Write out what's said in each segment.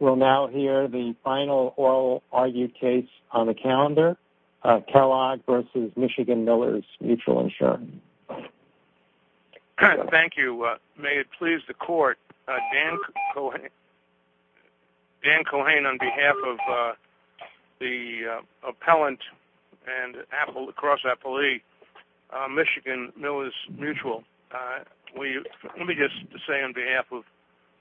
We'll now hear the final oral argued case on the calendar, Kellogg v. Michigan Millers Mutual Insurance. Thank you. May it please the court, Dan Cohen on behalf of the appellant and Apple, across Apple E, Michigan Millers Mutual. Let me just say on behalf of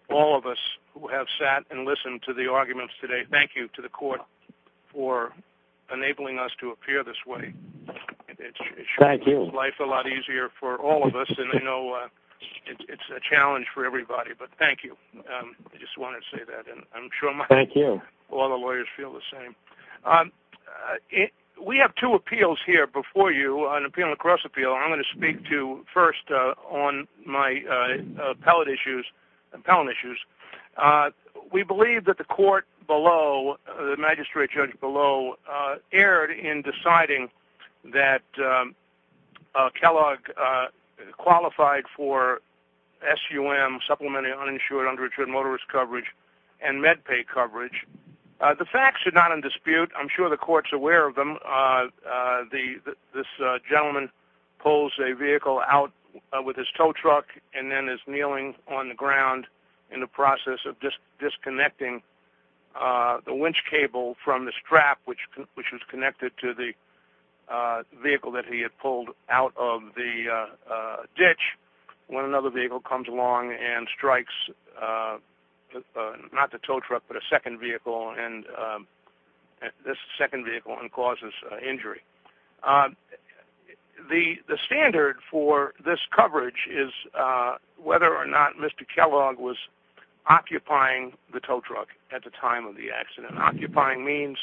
all of us who have sat and listened to the arguments today, thank you to the court for enabling us to appear this way. Thank you. It sure makes life a lot easier for all of us, and I know it's a challenge for everybody, but thank you. I just wanted to say that, and I'm sure all the lawyers feel the same. We have two appeals here before you, an appeal and a cross appeal. So I'm going to speak to, first, on my appellate issues, appellant issues. We believe that the court below, the magistrate judge below, erred in deciding that Kellogg qualified for SUM, Supplementary Uninsured Underage Motorist Coverage, and MedPay coverage. The facts are not in dispute. I'm sure the court's aware of them. This gentleman pulls a vehicle out with his tow truck and then is kneeling on the ground in the process of disconnecting the winch cable from the strap, which was connected to the vehicle that he had pulled out of the ditch, when another vehicle comes along and this second vehicle, and causes injury. The standard for this coverage is whether or not Mr. Kellogg was occupying the tow truck at the time of the accident. Occupying means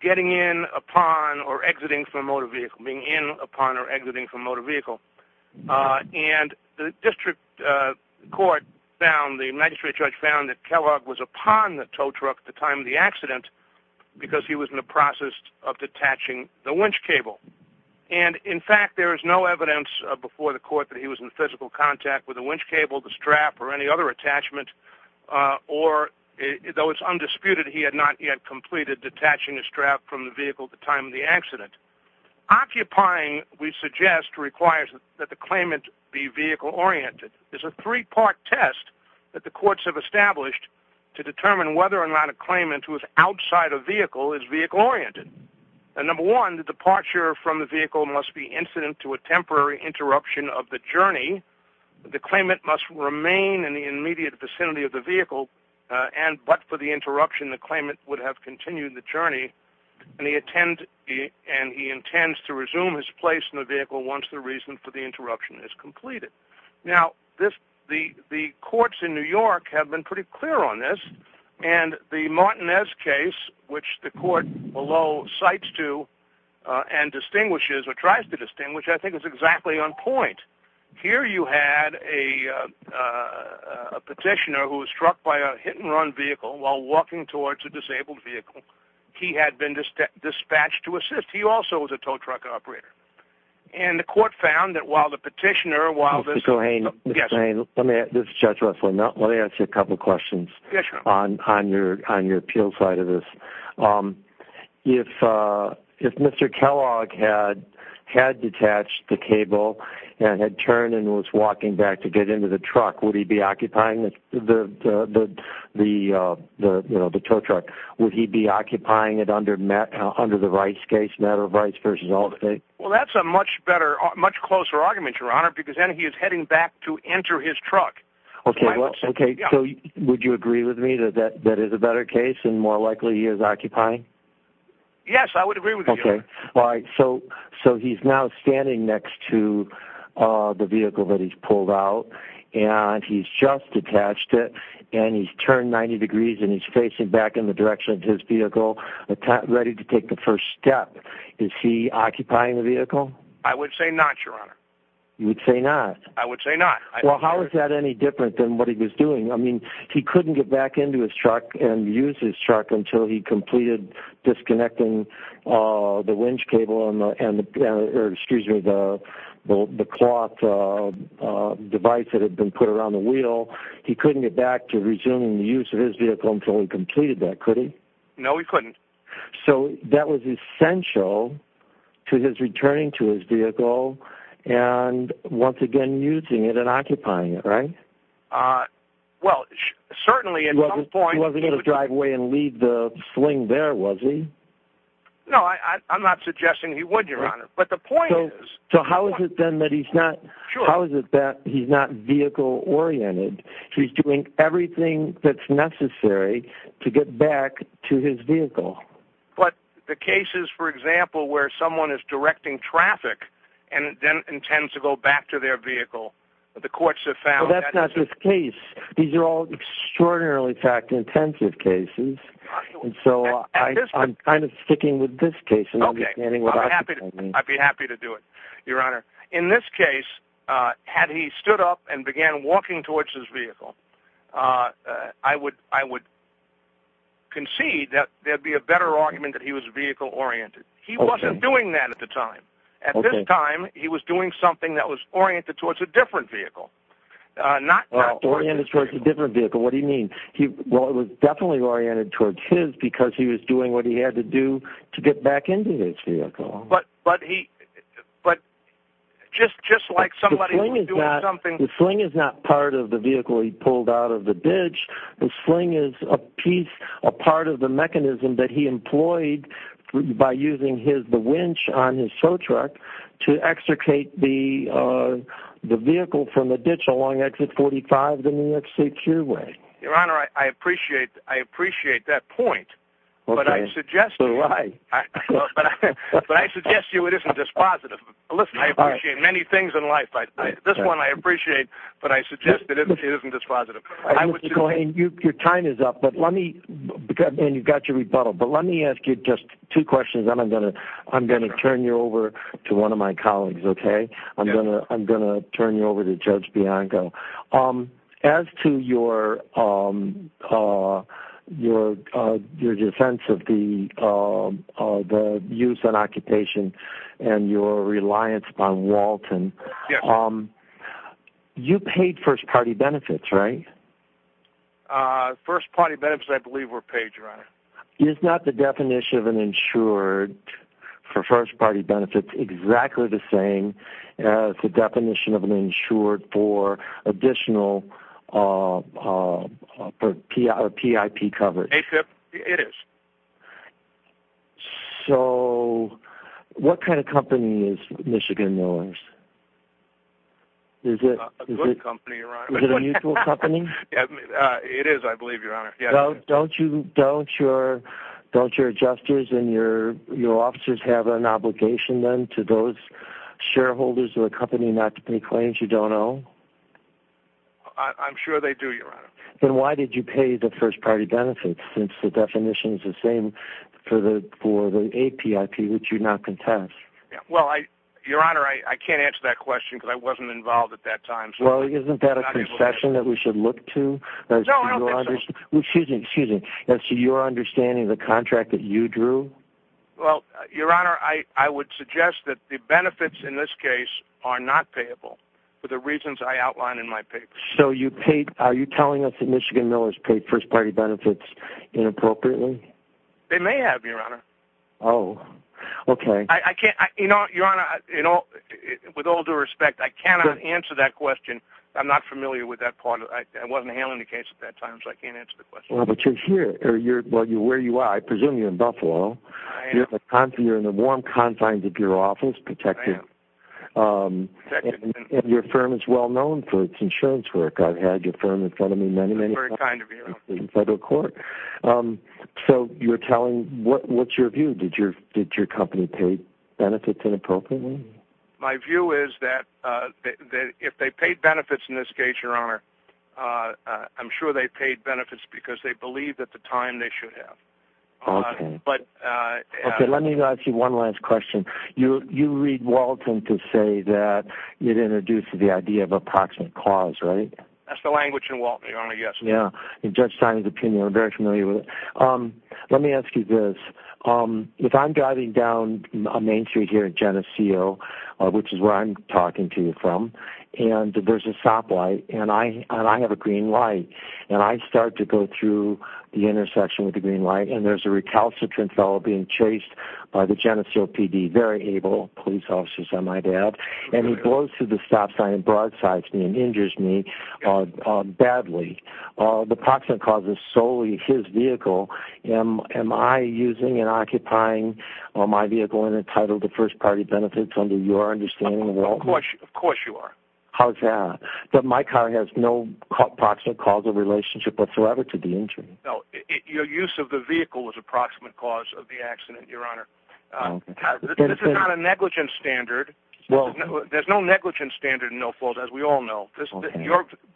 getting in upon or exiting from a motor vehicle, being in upon or exiting from a motor vehicle, and the district court found, the magistrate judge found, that Kellogg was upon the tow truck at the time of the accident, because he was in the process of detaching the winch cable. And in fact, there is no evidence before the court that he was in physical contact with the winch cable, the strap, or any other attachment, or, though it's undisputed, he had not yet completed detaching the strap from the vehicle at the time of the accident. Occupying, we suggest, requires that the claimant be vehicle oriented. It's a three-part test that the courts have established to determine whether or not a claimant who is outside a vehicle is vehicle oriented. And number one, the departure from the vehicle must be incident to a temporary interruption of the journey. The claimant must remain in the immediate vicinity of the vehicle, but for the interruption, the claimant would have continued the journey, and he intends to resume his place in the vehicle once the reason for the interruption is completed. Now, the courts in New York have been pretty clear on this, and the Martinez case, which the court, below, cites to and distinguishes, or tries to distinguish, I think is exactly on point. Here you had a petitioner who was struck by a hit-and-run vehicle while walking towards a disabled vehicle. He had been dispatched to assist. He also was a tow truck operator. And the court found that while the petitioner, while this... Mr. Hain, Mr. Hain, let me... This is Judge Russell. Let me ask you a couple of questions on your appeal side of this. If Mr. Kellogg had detached the cable and had turned and was walking back to get into the truck, would he be occupying the tow truck? Would he be occupying it under the Rice case, matter of Rice v. Aldergate? Well, that's a much better... Much closer argument, Your Honor, because then he is heading back to enter his truck. Okay. Well, okay. So, would you agree with me that that is a better case and more likely he is occupying? Yes, I would agree with you. Okay. All right. So, he's now standing next to the vehicle that he's pulled out, and he's just detached it, and he's turned 90 degrees, and he's facing back in the direction of his vehicle, ready to take the first step. Is he occupying the vehicle? I would say not, Your Honor. You would say not? I would say not. Well, how is that any different than what he was doing? I mean, he couldn't get back into his truck and use his truck until he completed disconnecting the winch cable and the... Excuse me, the cloth device that had been put around the wheel. He couldn't get back to resuming the use of his vehicle until he completed that, could he? No, he couldn't. So, that was essential to his returning to his vehicle and, once again, using it and occupying it, right? Well, certainly, at some point... He wasn't going to drive away and leave the sling there, was he? No, I'm not suggesting he would, Your Honor, but the point is... So, how is it then that he's not vehicle-oriented? He's doing everything that's necessary to get back to his vehicle. But the cases, for example, where someone is directing traffic and then intends to go back to their vehicle, the courts have found that... Well, that's not his case. These are all extraordinarily, in fact, intensive cases, and so I'm kind of sticking with this case. Okay. I'd be happy to do it, Your Honor. In this case, had he stood up and began walking towards his vehicle, I would concede that there'd be a better argument that he was vehicle-oriented. He wasn't doing that at the time. At this time, he was doing something that was oriented towards a different vehicle. Not... Oriented towards a different vehicle. What do you mean? Well, it was definitely oriented towards his because he was doing what he had to do to get back into his vehicle. But he... But just like somebody who's doing something... The sling is not part of the vehicle he pulled out of the ditch. The sling is a piece, a part of the mechanism that he employed by using the winch on his tow truck to extricate the vehicle from the ditch along exit 45 of the New York State Cureway. Your Honor, I appreciate that point. But I suggest... Okay. But I suggest to you it isn't just positive. Listen, I appreciate many things in life. This one I appreciate, but I suggest that it isn't just positive. I would... Mr. Golden, your time is up. But let me... And you've got your rebuttal. But let me ask you just two questions, and I'm going to turn you over to one of my colleagues, okay? I'm going to turn you over to Judge Bianco. As to your defense of the use and occupation and your reliance upon Walton, you paid first party benefits, right? First party benefits, I believe, were paid, Your Honor. Is not the definition of an insured for first party benefits exactly the same as the definition of an insured for additional PIP coverage? It is. So what kind of company is Michigan Millers? A good company, Your Honor. Is it a mutual company? It is, I believe, Your Honor. Don't your adjusters and your officers have an obligation, then, to those shareholders or a company not to pay claims you don't own? I'm sure they do, Your Honor. Then why did you pay the first party benefits since the definition is the same for the APIP which you now contest? Well, Your Honor, I can't answer that question because I wasn't involved at that time. Well, isn't that a concession that we should look to? No, I don't think so. Excuse me, excuse me. As to your understanding of the contract that you drew? Well, Your Honor, I would suggest that the benefits in this case are not payable for the reasons I outlined in my paper. So you paid, are you telling us that Michigan Millers paid first party benefits inappropriately? They may have, Your Honor. Oh, okay. I can't, you know, Your Honor, with all due respect, I cannot answer that question. I'm not familiar with that part. I wasn't handling the case at that time, so I can't answer the question. Well, but you're here. Well, where you are, I presume you're in Buffalo. I am. You're in the warm confines of your office, protected. I am, protected. And your firm is well known for its insurance work. I've had your firm in front of me many, many times. Very kind of you. In federal court. So you're telling, what's your view? Did your company pay benefits inappropriately? My view is that if they paid benefits in this case, Your Honor, I'm sure they paid benefits because they believed at the time they should have. Okay. But... Okay, let me ask you one last question. You read Walton to say that it introduces the idea of approximate cause, right? That's the language in Walton, Your Honor, yes. Yeah. In Judge Stein's opinion, I'm very familiar with it. Let me ask you this. If I'm driving down Main Street here at Geneseo, which is where I'm talking to you from, and there's a stoplight, and I have a green light, and I start to go through the intersection with the green light, and there's a recalcitrant fellow being chased by the Geneseo PD. Very able police officers, I might add. And he goes to the stop sign and broadsides me and injures me badly. The approximate cause is solely his vehicle. Am I using and occupying my vehicle and entitled to first-party benefits under your understanding of Walton? Of course you are. How's that? But my car has no approximate cause or relationship whatsoever to the injury. No, your use of the vehicle was approximate cause of the accident, Your Honor. This is not a negligence standard. There's no negligence standard in no-fault, as we all know.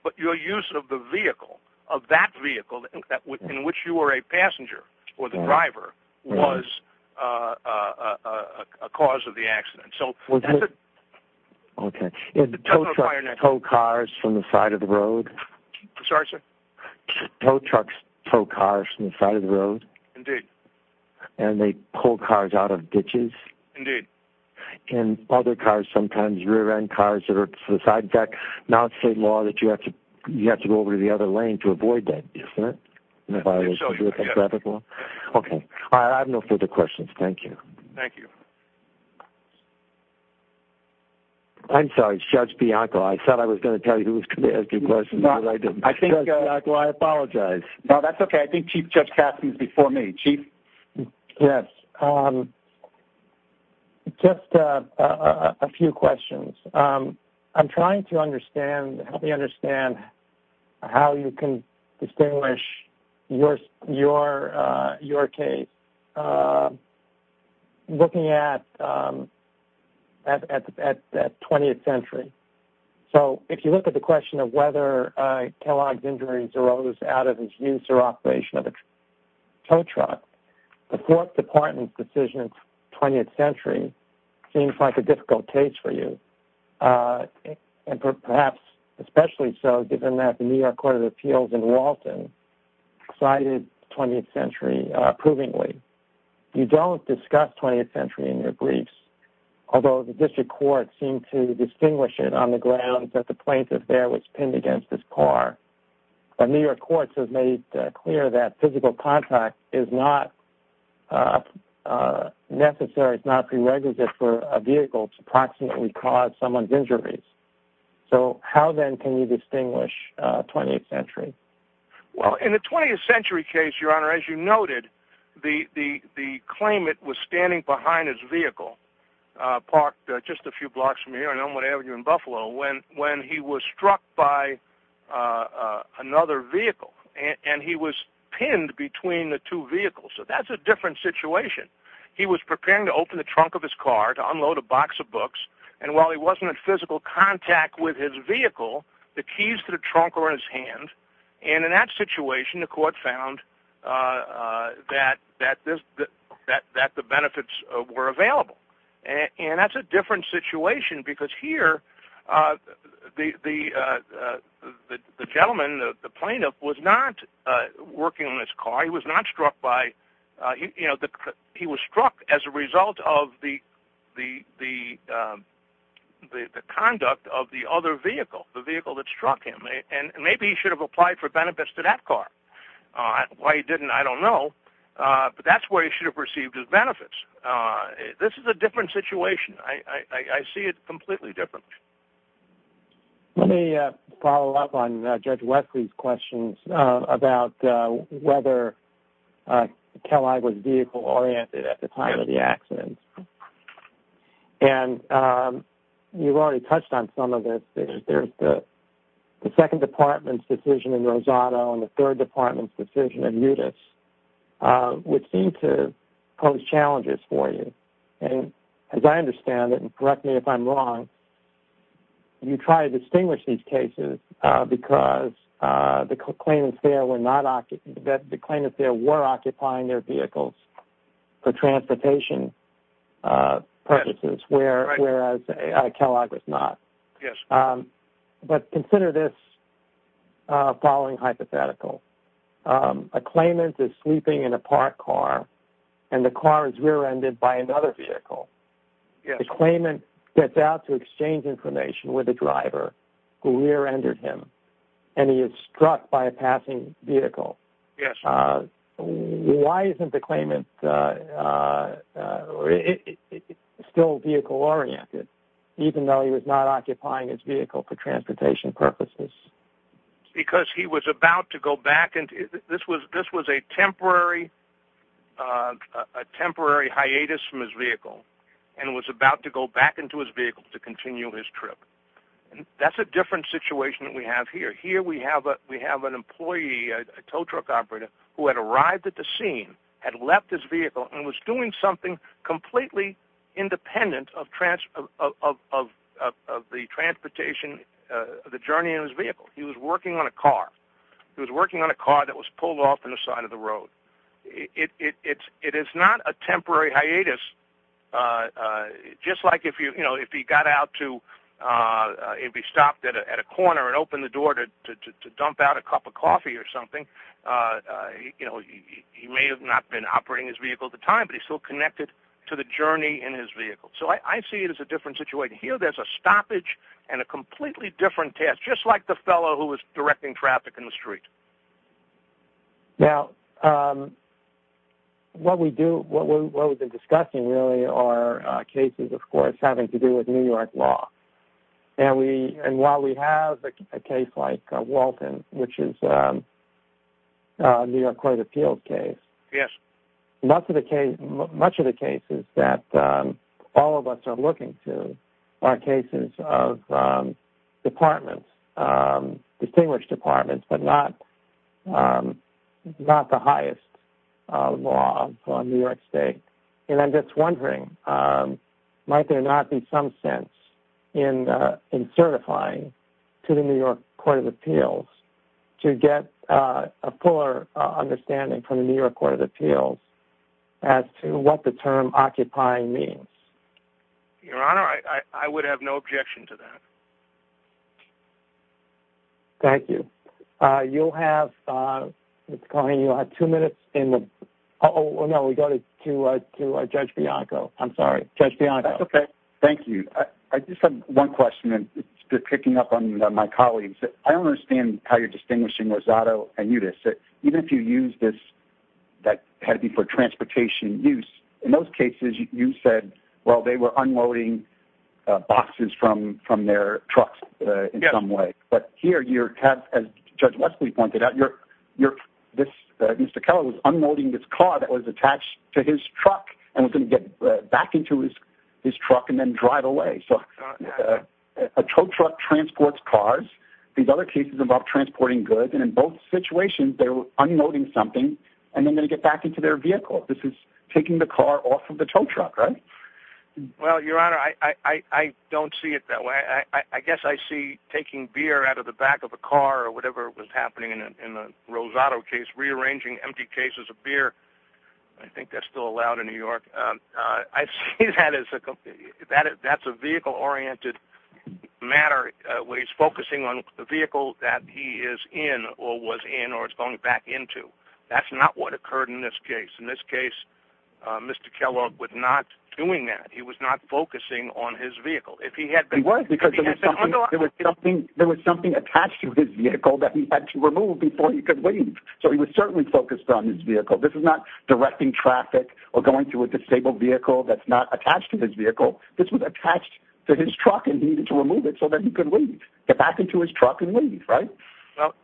But your use of the vehicle, of that vehicle in which you were a passenger or the driver, was a cause of the accident. So that's it. Okay. Does the tow truck tow cars from the side of the road? I'm sorry, sir? Tow trucks tow cars from the side of the road? Indeed. And they pull cars out of ditches? Indeed. And other cars, sometimes rear-end cars that are for the side deck? Now it's state law that you have to go over to the other lane to avoid that, isn't it? I think so, yes. Okay. All right, I have no further questions. Thank you. Thank you. I'm sorry, it's Judge Bianco. I thought I was going to tell you who was going to ask you questions, but I didn't. I think, Judge Bianco, I apologize. No, that's okay. I think Chief Judge Caput is before me. Chief? Yes. Just a few questions. I'm trying to help you understand how you can distinguish your case looking at 20th Century. So if you look at the question of whether Kellogg's injuries arose out of his use or operation of a tow truck, the Fourth Department's decision in 20th Century seems like a and perhaps especially so given that the New York Court of Appeals in Walton cited 20th Century approvingly. You don't discuss 20th Century in your briefs, although the district courts seem to distinguish it on the grounds that the plaintiff there was pinned against his car. The New York courts have made clear that physical contact is not necessary, it's not to cause someone's injuries. So how then can you distinguish 20th Century? Well, in the 20th Century case, Your Honor, as you noted, the claimant was standing behind his vehicle parked just a few blocks from here on Elmwood Avenue in Buffalo when he was struck by another vehicle, and he was pinned between the two vehicles. So that's a different situation. He was preparing to open the trunk of his car to unload a box of books, and while he wasn't in physical contact with his vehicle, the keys to the trunk were in his hand. And in that situation, the court found that the benefits were available. And that's a different situation because here, the gentleman, the plaintiff, was not working on his car, he was not struck by, he was struck as a result of the conduct of the other vehicle, the vehicle that struck him. And maybe he should have applied for benefits to that car. Why he didn't, I don't know. But that's where he should have received his benefits. This is a different situation. I see it completely different. Let me follow up on Judge Westley's questions about whether Kelli was vehicle oriented at the time of the accident. And you've already touched on some of this. There's the second department's decision in Rosado and the third department's decision in Utis, which seem to pose challenges for you. And as I understand it, and correct me if I'm wrong, you try to distinguish these cases because the claimants there were not, the claimants there were occupying their vehicles for transportation purposes, whereas Kellogg was not. Yes. But consider this following hypothetical. A claimant is sleeping in a parked car and the car is rear-ended by another vehicle. Yes. The claimant gets out to exchange information with the driver who rear- ended him and he is struck by a passing vehicle. Yes. Why isn't the claimant still vehicle oriented, even though he was not occupying his vehicle for transportation purposes? Because he was about to go back, this was a temporary hiatus from his vehicle and was about to go back into his vehicle to continue his trip. That's a different situation that we have here. Here we have an employee, a tow truck operator, who had arrived at the scene, had left his vehicle and was doing something completely independent of the transportation, the journey in his vehicle. He was working on a car. He was working on a car that was pulled off on the side of the road. It is not a temporary hiatus, just like if he got out to, if he stopped at a corner and opened the door to dump out a cup of coffee or something, he may have not been operating his vehicle at the time, but he's still connected to the journey in his vehicle. So I see it as a different situation. Here there's a stoppage and a completely different task, just like the fellow who was directing traffic in the street. Now, what we do, what we've been discussing really are cases, of course, having to do with New York law. And while we have a case like Walton, which is a New York Court of Appeals case, much of the cases that all of us are looking to are cases of departments, distinguished departments, but not the highest law on New York State. And I'm just wondering, might there not be some sense in certifying to the broader understanding from the New York Court of Appeals as to what the term occupying means? Your Honor, I would have no objection to that. Thank you. You'll have, Mr. Coney, you'll have two minutes in the, oh, no, we go to Judge Bianco. I'm sorry. Judge Bianco. That's okay. Thank you. I just have one question, and it's picking up on my colleagues. I don't understand how you're distinguishing Rosado and Yudis. Even if you use this, that had to be for transportation use, in those cases you said, well, they were unloading boxes from their trucks in some way. Yes. But here you have, as Judge Westley pointed out, Mr. Kellogg was unloading this car that was attached to his truck and was going to get back into his truck and then drive away. So a tow truck transports cars. These other cases involve transporting goods, and in both situations they're unloading something and then they get back into their vehicle. This is taking the car off of the tow truck, right? Well, Your Honor, I don't see it that way. I guess I see taking beer out of the back of a car or whatever was happening in the Rosado case, rearranging empty cases of beer. I think that's still allowed in New York. I see that as a vehicle-oriented matter where he's focusing on the vehicle that he is in or was in or is going back into. That's not what occurred in this case. In this case, Mr. Kellogg was not doing that. He was not focusing on his vehicle. He was because there was something attached to his vehicle that he had to remove before he could leave. So he was certainly focused on his vehicle. This is not directing traffic or going through a disabled vehicle that's not attached to his vehicle. This was attached to his truck and he needed to remove it so that he could leave, get back into his truck and leave, right? Well,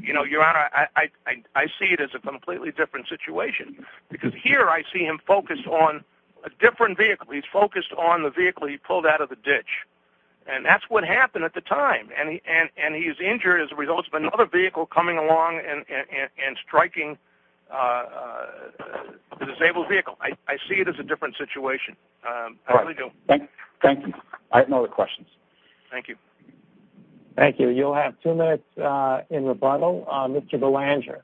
Your Honor, I see it as a completely different situation because here I see him focused on a different vehicle. He's focused on the vehicle he pulled out of the ditch, and that's what happened at the time. He's injured as a result of another vehicle coming along and striking the disabled vehicle. I see it as a different situation. I really do. Thank you. I have no other questions. Thank you. Thank you. You'll have two minutes in rebuttal. Mr. Belanger.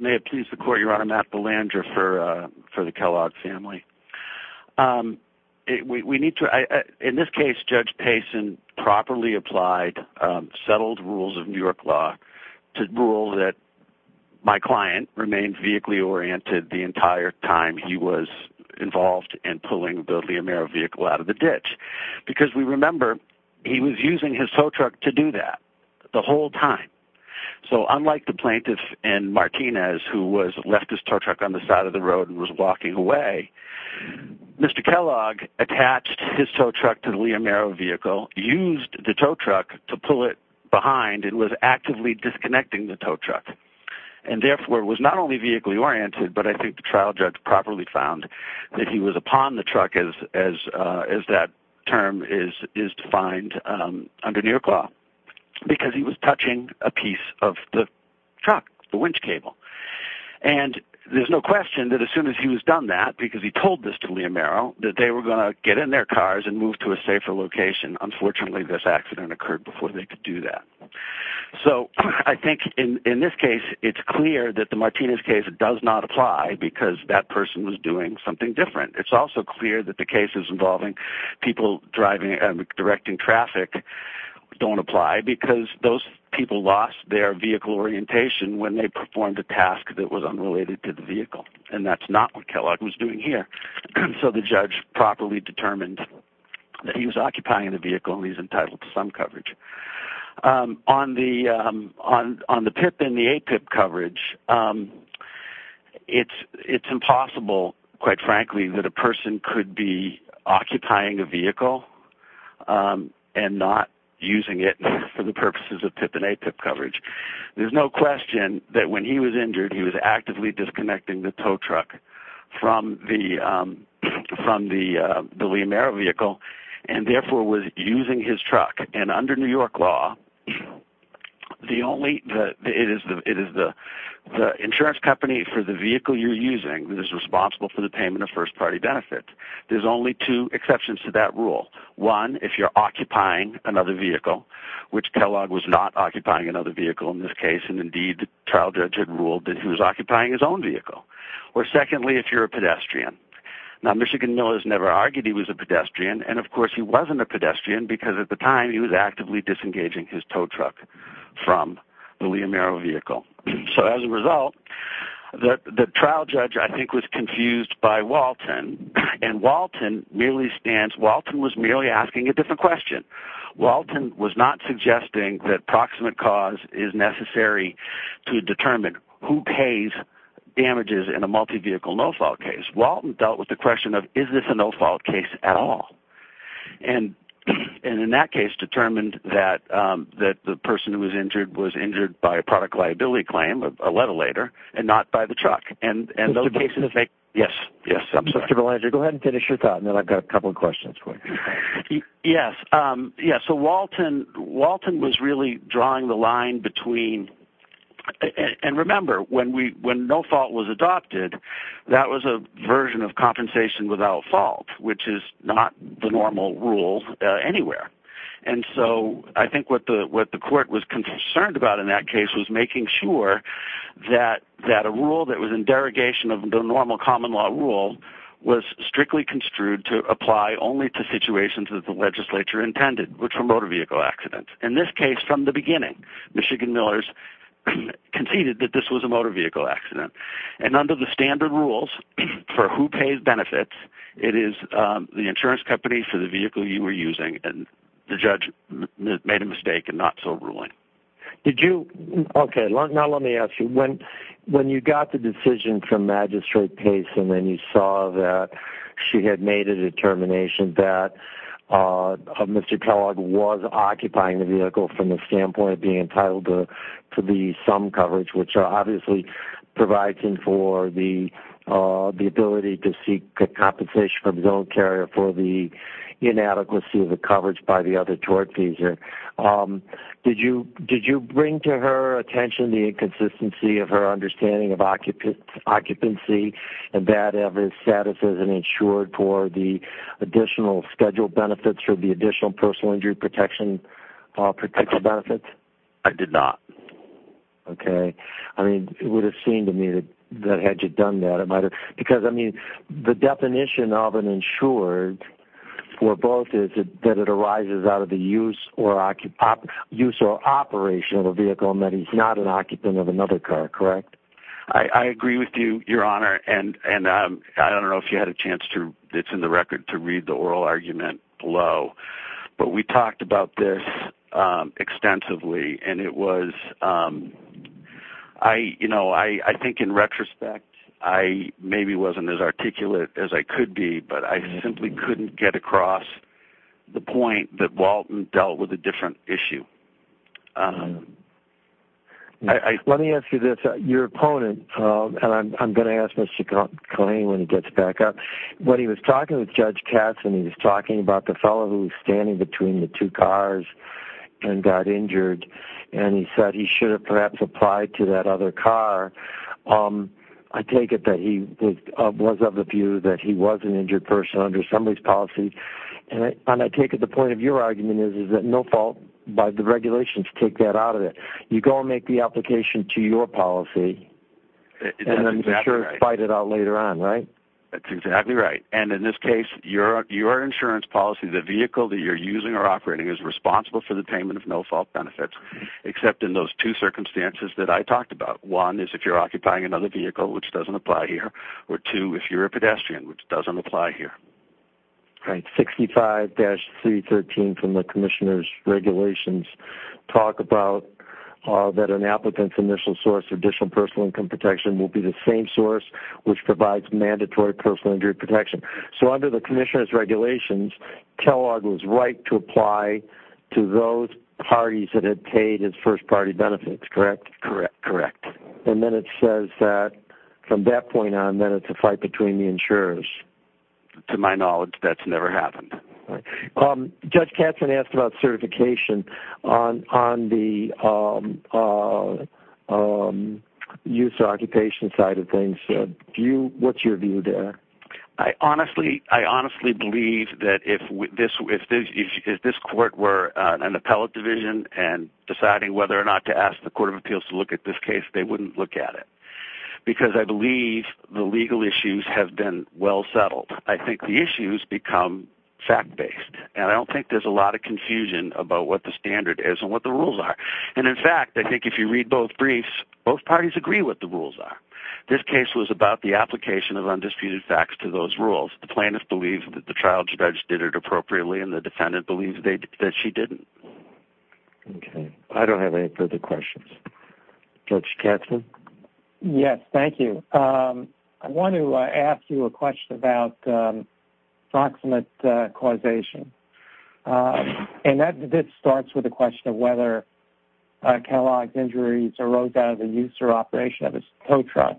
May it please the Court, Your Honor, Matt Belanger for the Kellogg family. We need to, in this case, Judge Payson properly applied settled rules of New York law to rule that my client remained vehicle-oriented the entire time he was involved in pulling the Liamero vehicle out of the ditch because we remember he was using his tow truck to do that the whole time. So unlike the plaintiff in Martinez who left his tow truck on the side of the road and was walking away, Mr. Kellogg attached his tow truck to the Liamero vehicle, used the tow truck to pull it behind and was actively disconnecting the tow truck and therefore was not only vehicle-oriented but I think the trial judge properly found that he was upon the truck as that term is defined under New York law because he was touching a piece of the truck, the winch cable. And there's no question that as soon as he was done that because he told this to Liamero that they were going to get in their cars and move to a safer location. Unfortunately this accident occurred before they could do that. So I think in this case it's clear that the Martinez case does not apply because that person was doing something different. It's also clear that the cases involving people driving and directing traffic don't apply because those people lost their vehicle orientation when they performed a task that was unrelated to the vehicle and that's not what Kellogg was doing here. So the judge properly determined that he was occupying the vehicle and he's entitled to some coverage. On the PIP and the A-PIP coverage, it's impossible, quite frankly, that a person could be occupying a vehicle and not using it for the purposes of PIP and A-PIP coverage. There's no question that when he was injured he was actively disconnecting the tow truck from the William Merrill vehicle and therefore was using his truck. And under New York law, the insurance company for the vehicle you're using is responsible for the payment of first-party benefits. There's only two exceptions to that rule. One, if you're occupying another vehicle, which Kellogg was not occupying another vehicle in this case, and indeed the trial judge had ruled that he was occupying his own vehicle. Or secondly, if you're a pedestrian. Now, Michigan Miller's never argued he was a pedestrian, and of course he wasn't a pedestrian because at the time he was actively disengaging his tow truck from the William Merrill vehicle. So as a result, the trial judge, I think, was confused by Walton and Walton was merely asking a different question. Walton was not suggesting that proximate cause is necessary to determine who pays damages in a multi-vehicle no-fault case. Walton dealt with the question of is this a no-fault case at all? And in that case determined that the person who was injured was injured by a product liability claim a letter later, and not by the truck. And those cases make... Yes, I'm sorry. Go ahead and finish your thought and then I've got a couple of questions. Yes, so Walton was really drawing the line between and remember, when no fault was adopted that was a version of compensation without fault, which is not the normal rule anywhere. And so, I think what the court was concerned about in that case was making sure that a rule that was in derogation of the normal common law rule was strictly construed to apply only to situations that the legislature intended, which were motor vehicle accidents. In this case, from the beginning Michigan Millers conceded that this was a motor vehicle accident. And under the standard rules for who pays benefits it is the insurance company for the vehicle you were using and the judge made a mistake in not so ruling. Okay, now let me ask you when you got the decision from Magistrate Payson and you saw that she had made a determination that Mr. Kellogg was occupying the vehicle from the standpoint of being entitled to the sum coverage which obviously provides for the ability to seek compensation for the zone carrier for the inadequacy of the coverage by the other tort fees. Did you bring to her attention the inconsistency of her understanding of occupancy and that every status isn't insured for the additional scheduled benefits for the additional personal injury protection benefits? I did not. Okay, it would have seemed to me that had you done that because the definition of an insured for both is that it arises out of the use or operation of a vehicle and that he's not an occupant of another car, correct? I agree with you, Your Honor, and I don't know if you had a chance to read the oral argument below but we talked about this extensively and it was I think in retrospect I maybe wasn't as articulate as I could be but I simply couldn't get across the point that Walton dealt with a different issue. Let me ask you this, your opponent, and I'm going to put this to claim when he gets back up when he was talking with Judge Katz and he was talking about the fellow who was standing between the two cars and got injured and he said he should have perhaps applied to that other car I take it that he was of the view that he was an injured person under somebody's policy and I take it the point of your argument is that no fault by the regulations take that out of it. You go and make the application to your policy and I'm sure fight it out later on, right? That's exactly right and in this case your insurance policy, the vehicle that you're using or operating is responsible for the payment of no fault benefits except in those two circumstances that I talked about. One is if you're occupying another vehicle which doesn't apply here or two if you're a pedestrian which doesn't apply here. 65-313 from the Commissioner's regulations talk about that an applicant's initial source of additional personal income protection will be the same source which provides mandatory personal injury protection so under the Commissioner's regulations Kellogg was right to apply to those parties that had paid his first party benefits correct? Correct. And then it says that from that point on then it's a fight between the insurers To my knowledge that's never happened Judge Katzen asked about certification on the use occupation side of things what's your view there? I honestly believe that if this court were an appellate division and deciding whether or not to ask the Court of Appeals to look at this case they wouldn't look at it because I believe the legal issues have been well settled. I think the issues become fact based and I don't think there's a lot of confusion about what the standard is and what the rules are and in fact I think if you read both briefs both parties agree what the rules are this case was about the application of undisputed facts to those rules the plaintiff believes that the trial judge did it appropriately and the defendant believes that she didn't I don't have any further questions Judge Katzen? Yes, thank you I want to ask you a question about proximate causation and that this starts with a question of whether Kellogg's injuries arose out of the use or operation of his tow truck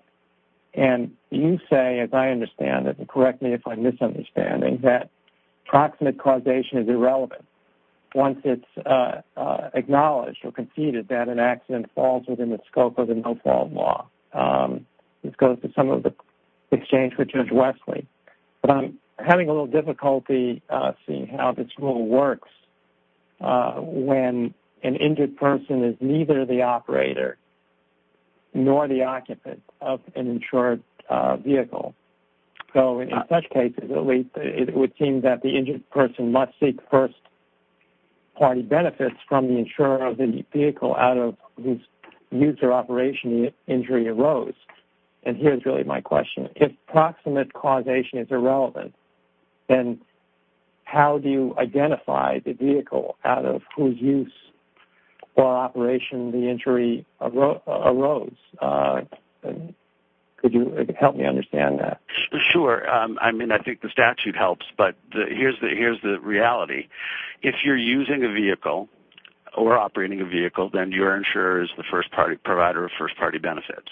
and you say, as I understand it and correct me if I'm misunderstanding, that proximate causation is irrelevant once it's acknowledged or conceded that an accident falls within the scope of the no-fall law this goes to some of the exchange with Judge Wesley but I'm having a little difficulty seeing how this rule works when an injured person is neither the operator nor the occupant of an insured vehicle so in such cases it would seem that the injured person must seek first party benefits from the insurer of the vehicle out of whose use or operation the injury arose and here's really my question if proximate causation is irrelevant then how do you identify the vehicle out of whose use or operation the injury arose could you help me understand that? Sure I mean I think the statute helps but here's the reality if you're using a vehicle or operating a vehicle then your insurer is the first party provider of first party benefits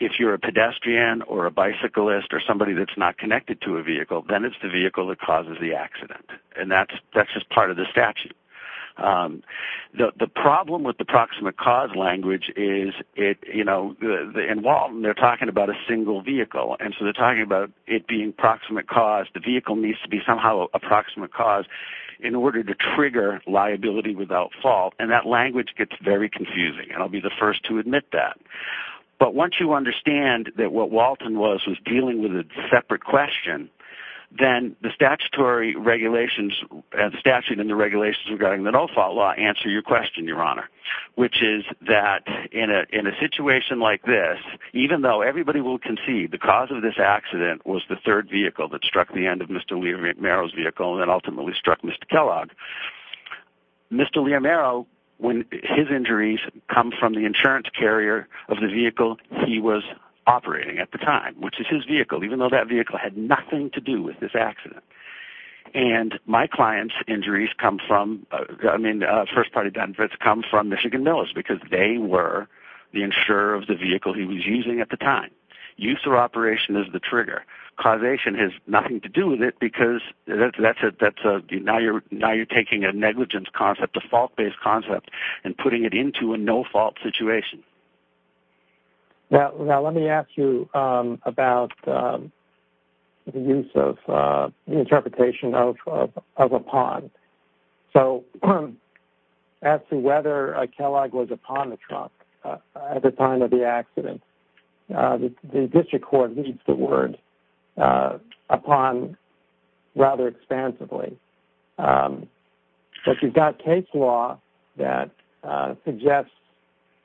if you're a pedestrian or a bicyclist or somebody that's not connected to a vehicle then it's the vehicle that causes the accident and that's just part of the statute the problem with the proximate cause language is in Walton they're talking about a single vehicle and so they're talking about it being proximate cause the vehicle needs to be somehow a proximate cause in order to trigger liability without fault and that language gets very confusing and I'll be the first to admit that but once you understand that what Walton was was dealing with a separate question then the statutory regulations and statute and the regulations regarding the no fault law answer your question your honor which is that in a situation like this even though everybody will concede the cause of this accident was the third vehicle that struck the end of Mr. Leomero's vehicle and ultimately struck Mr. Kellogg Mr. Leomero when his injuries come from the insurance carrier of the vehicle he was operating at the time which is his vehicle even though that vehicle had nothing to do with this accident and my client's injuries come from I mean first party benefits come from Michigan Mills because they were the insurer of the vehicle he was using at the time use or operation is the trigger causation has nothing to do with it because that's a now you're taking a negligence concept a fault based concept and putting it into a no fault situation now let me ask you about the use of the interpretation of upon so as to whether Kellogg was upon the truck at the time of the accident the district court needs the word upon rather expansively if you've got case law that suggests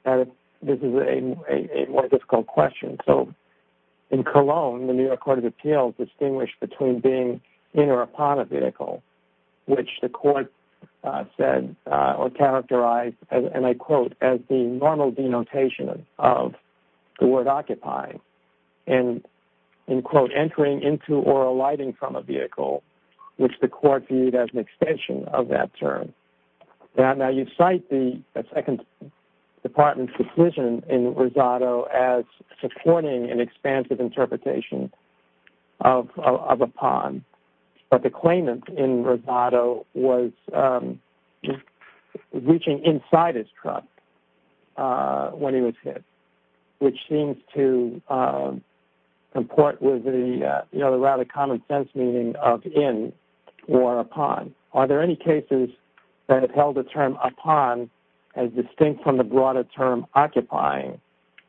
that this is a more difficult question in Cologne the New York Court of Appeals distinguished between being in or upon a vehicle which the court said or characterized and I quote as the normal denotation of the word occupying and in quote entering into or alighting from a vehicle which the court viewed as an extension of that term now you cite the department's decision in Rosado as supporting an expansive interpretation of upon but the claimant in Rosado was reaching inside his truck when he was hit which seems to comport with the rather common sense meaning of in or upon are there any cases that held the term upon as distinct from the broader term occupying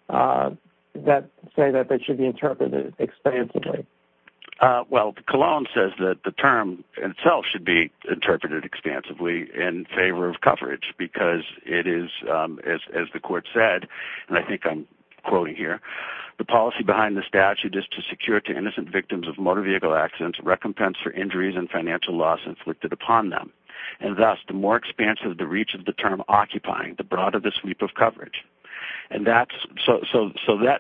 that say that they should be interpreted expansively well Cologne says that the term itself should be interpreted expansively in favor of coverage because it is as the court said and I think I'm quoting here the policy behind the statute is to secure to innocent victims of motor vehicle accidents recompense for injuries and financial loss inflicted upon them and thus the more expansive the reach of the term occupying the broader the sweep of coverage and that's so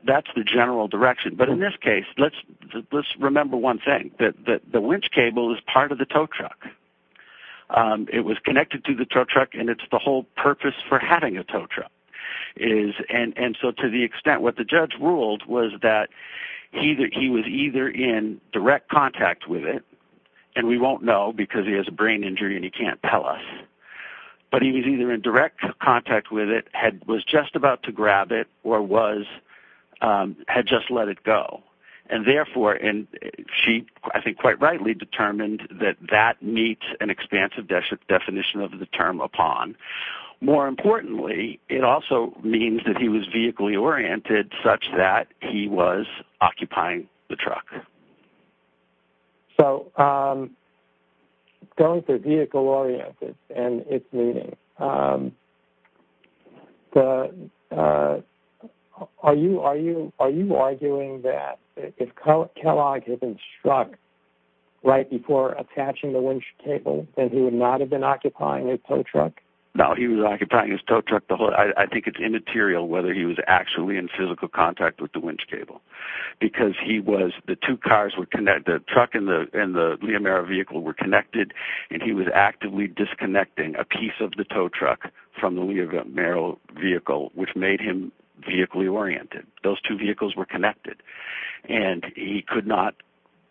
that's the general direction but in this case let's remember one thing that the winch cable is part of the tow truck it was connected to the tow truck and it's the whole purpose for having a tow truck and so to the extent what the judge ruled was that he was either in direct contact with it and we won't know because he has a brain injury and he can't tell us but he was either in direct contact with it was just about to grab it or was had just let it go and therefore she I think quite rightly determined that that meets an expansive definition of the term upon more importantly it also means that he was vehicly oriented such that he was occupying the truck so going for vehicle oriented and its meaning are you arguing that if Kellogg had been struck right before attaching the winch cable then he would not have been occupying a tow truck no he was occupying his tow truck I think it's immaterial whether he was actually in physical contact with the winch cable because he was the two cars were connected the truck and the Leomero vehicle were connected and he was actively disconnecting a piece of the tow truck from the Leomero vehicle which made him vehicly oriented those two vehicles were connected and he could not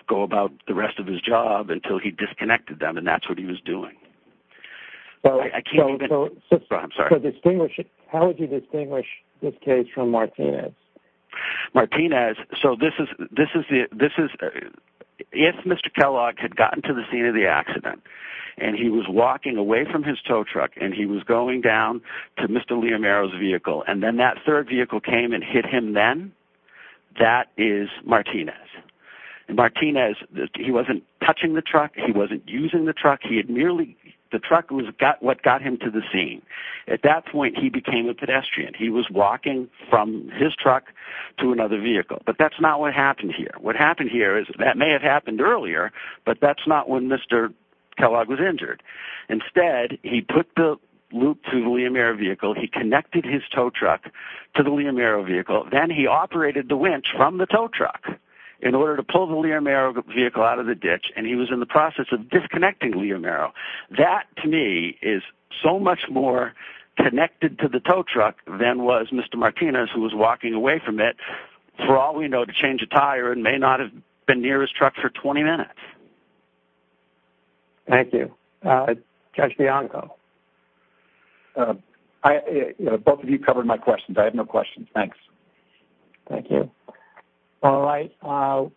go about the rest of his job until he disconnected them and that's what he was doing I can't even how would you distinguish this case from Martinez Martinez so this is if Mr. Kellogg had gotten to the scene of the accident and he was walking away from his tow truck and he was going down to Mr. Leomero's vehicle and then that third vehicle came and hit him then that is Martinez he wasn't touching the truck he wasn't using the truck he had merely the truck was what got him to the scene at that point he became a pedestrian he was walking from his truck to another vehicle but that's not what happened here that may have happened earlier but that's not when Mr. Kellogg was injured instead he put the loop to the Leomero vehicle he connected his tow truck to the Leomero vehicle then he operated the winch from the tow truck in order to pull the Leomero vehicle out of the ditch and he was in the process of disconnecting Leomero that to me is so much more connected to the tow truck than was Mr. Martinez who was walking away from it for all we know to change a tire and may not have been near his truck for 20 minutes thank you Judge Bianco both of you covered my questions I have no questions, thanks thank you alright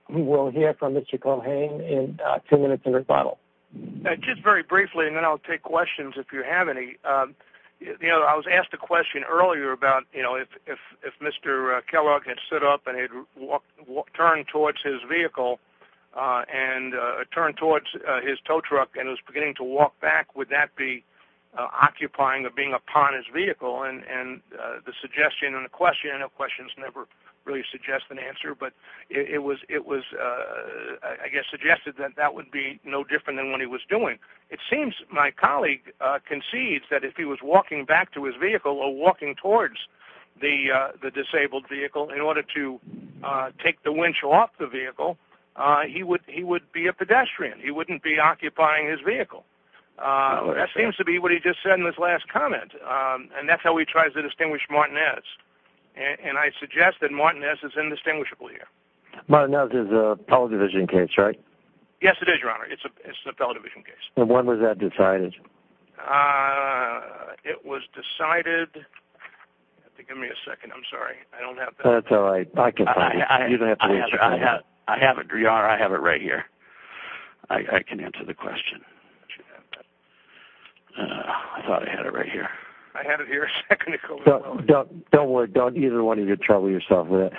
we will hear from Mr. Culhane in two minutes in rebuttal just very briefly and then I'll take questions if you have any I was asked a question earlier about if Mr. Kellogg had stood up and had turned towards his vehicle and turned towards his tow truck and was beginning to walk back would that be occupying of being upon his vehicle and the suggestion and the question and the questions never really suggest an answer but it was I guess suggested that that would be no different than what he was doing it seems my colleague concedes that if he was walking back to his vehicle or walking towards the disabled vehicle in order to take the winch off the vehicle he would be a pedestrian he wouldn't be occupying his vehicle that seems to be what he just said in his last comment and that's how we try to distinguish Martinez and I suggest that Martinez is indistinguishable here Martinez is a fellow division case right? yes it is your honor it's a fellow division case when was that decided? it was decided give me a second I'm sorry I don't have that I have it I have it right here I can answer the question I thought I had it right here I had it here don't worry don't either one of you trouble yourself Mr.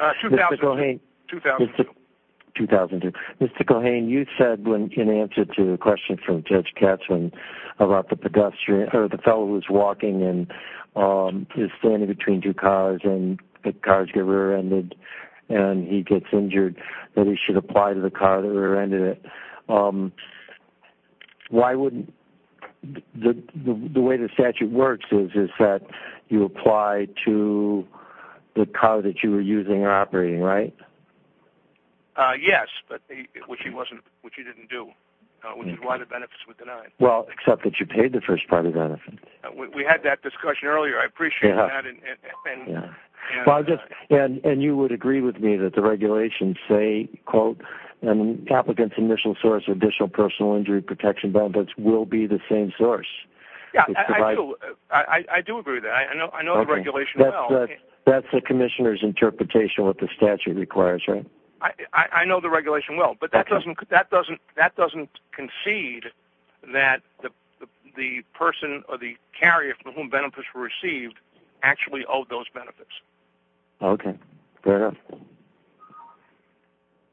Cohane 2002 Mr. Cohane you said in answer to the question from Judge Katzman about the pedestrian or the fellow who was walking and standing between two cars and the cars get rear ended and he gets injured that he should apply to the car that rear ended it why why wouldn't the way the statute works is that you apply to the car that you were using or operating right? yes which he didn't do which is why the benefits were denied well except that you paid the first party benefit we had that discussion earlier I appreciate that and you would agree with me that the regulations say quote applicants initial source additional personal injury protection benefits will be the same source I do agree I know the regulation well that's the commissioners interpretation what the statute requires I know the regulation well but that doesn't concede that the person or the carrier from whom benefits were received actually owed those benefits ok fair enough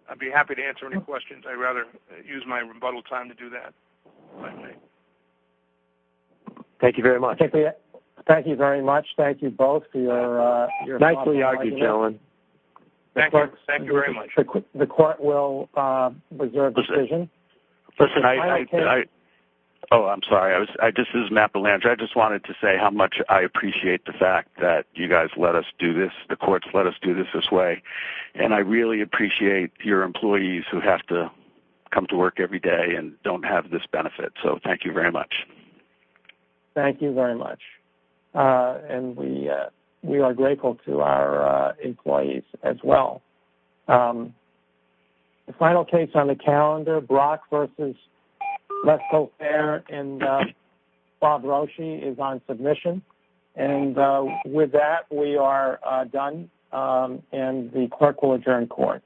I'd be happy to if you have any questions I'd rather use my rebuttal time to do that thank you very much thank you very much thank you both thank you very much the court will reserve decision oh I'm sorry this is Matt Belanger I just wanted to say how much I appreciate the fact that you guys let us do this the courts let us do this this way and I really appreciate your employees who have to come to work every day and don't have this benefit so thank you very much thank you very much and we we are grateful to our employees as well the final case on the calendar Brock versus Lesko Fair and Bob Roshi is on submission and with that we are done and the clerk will adjourn court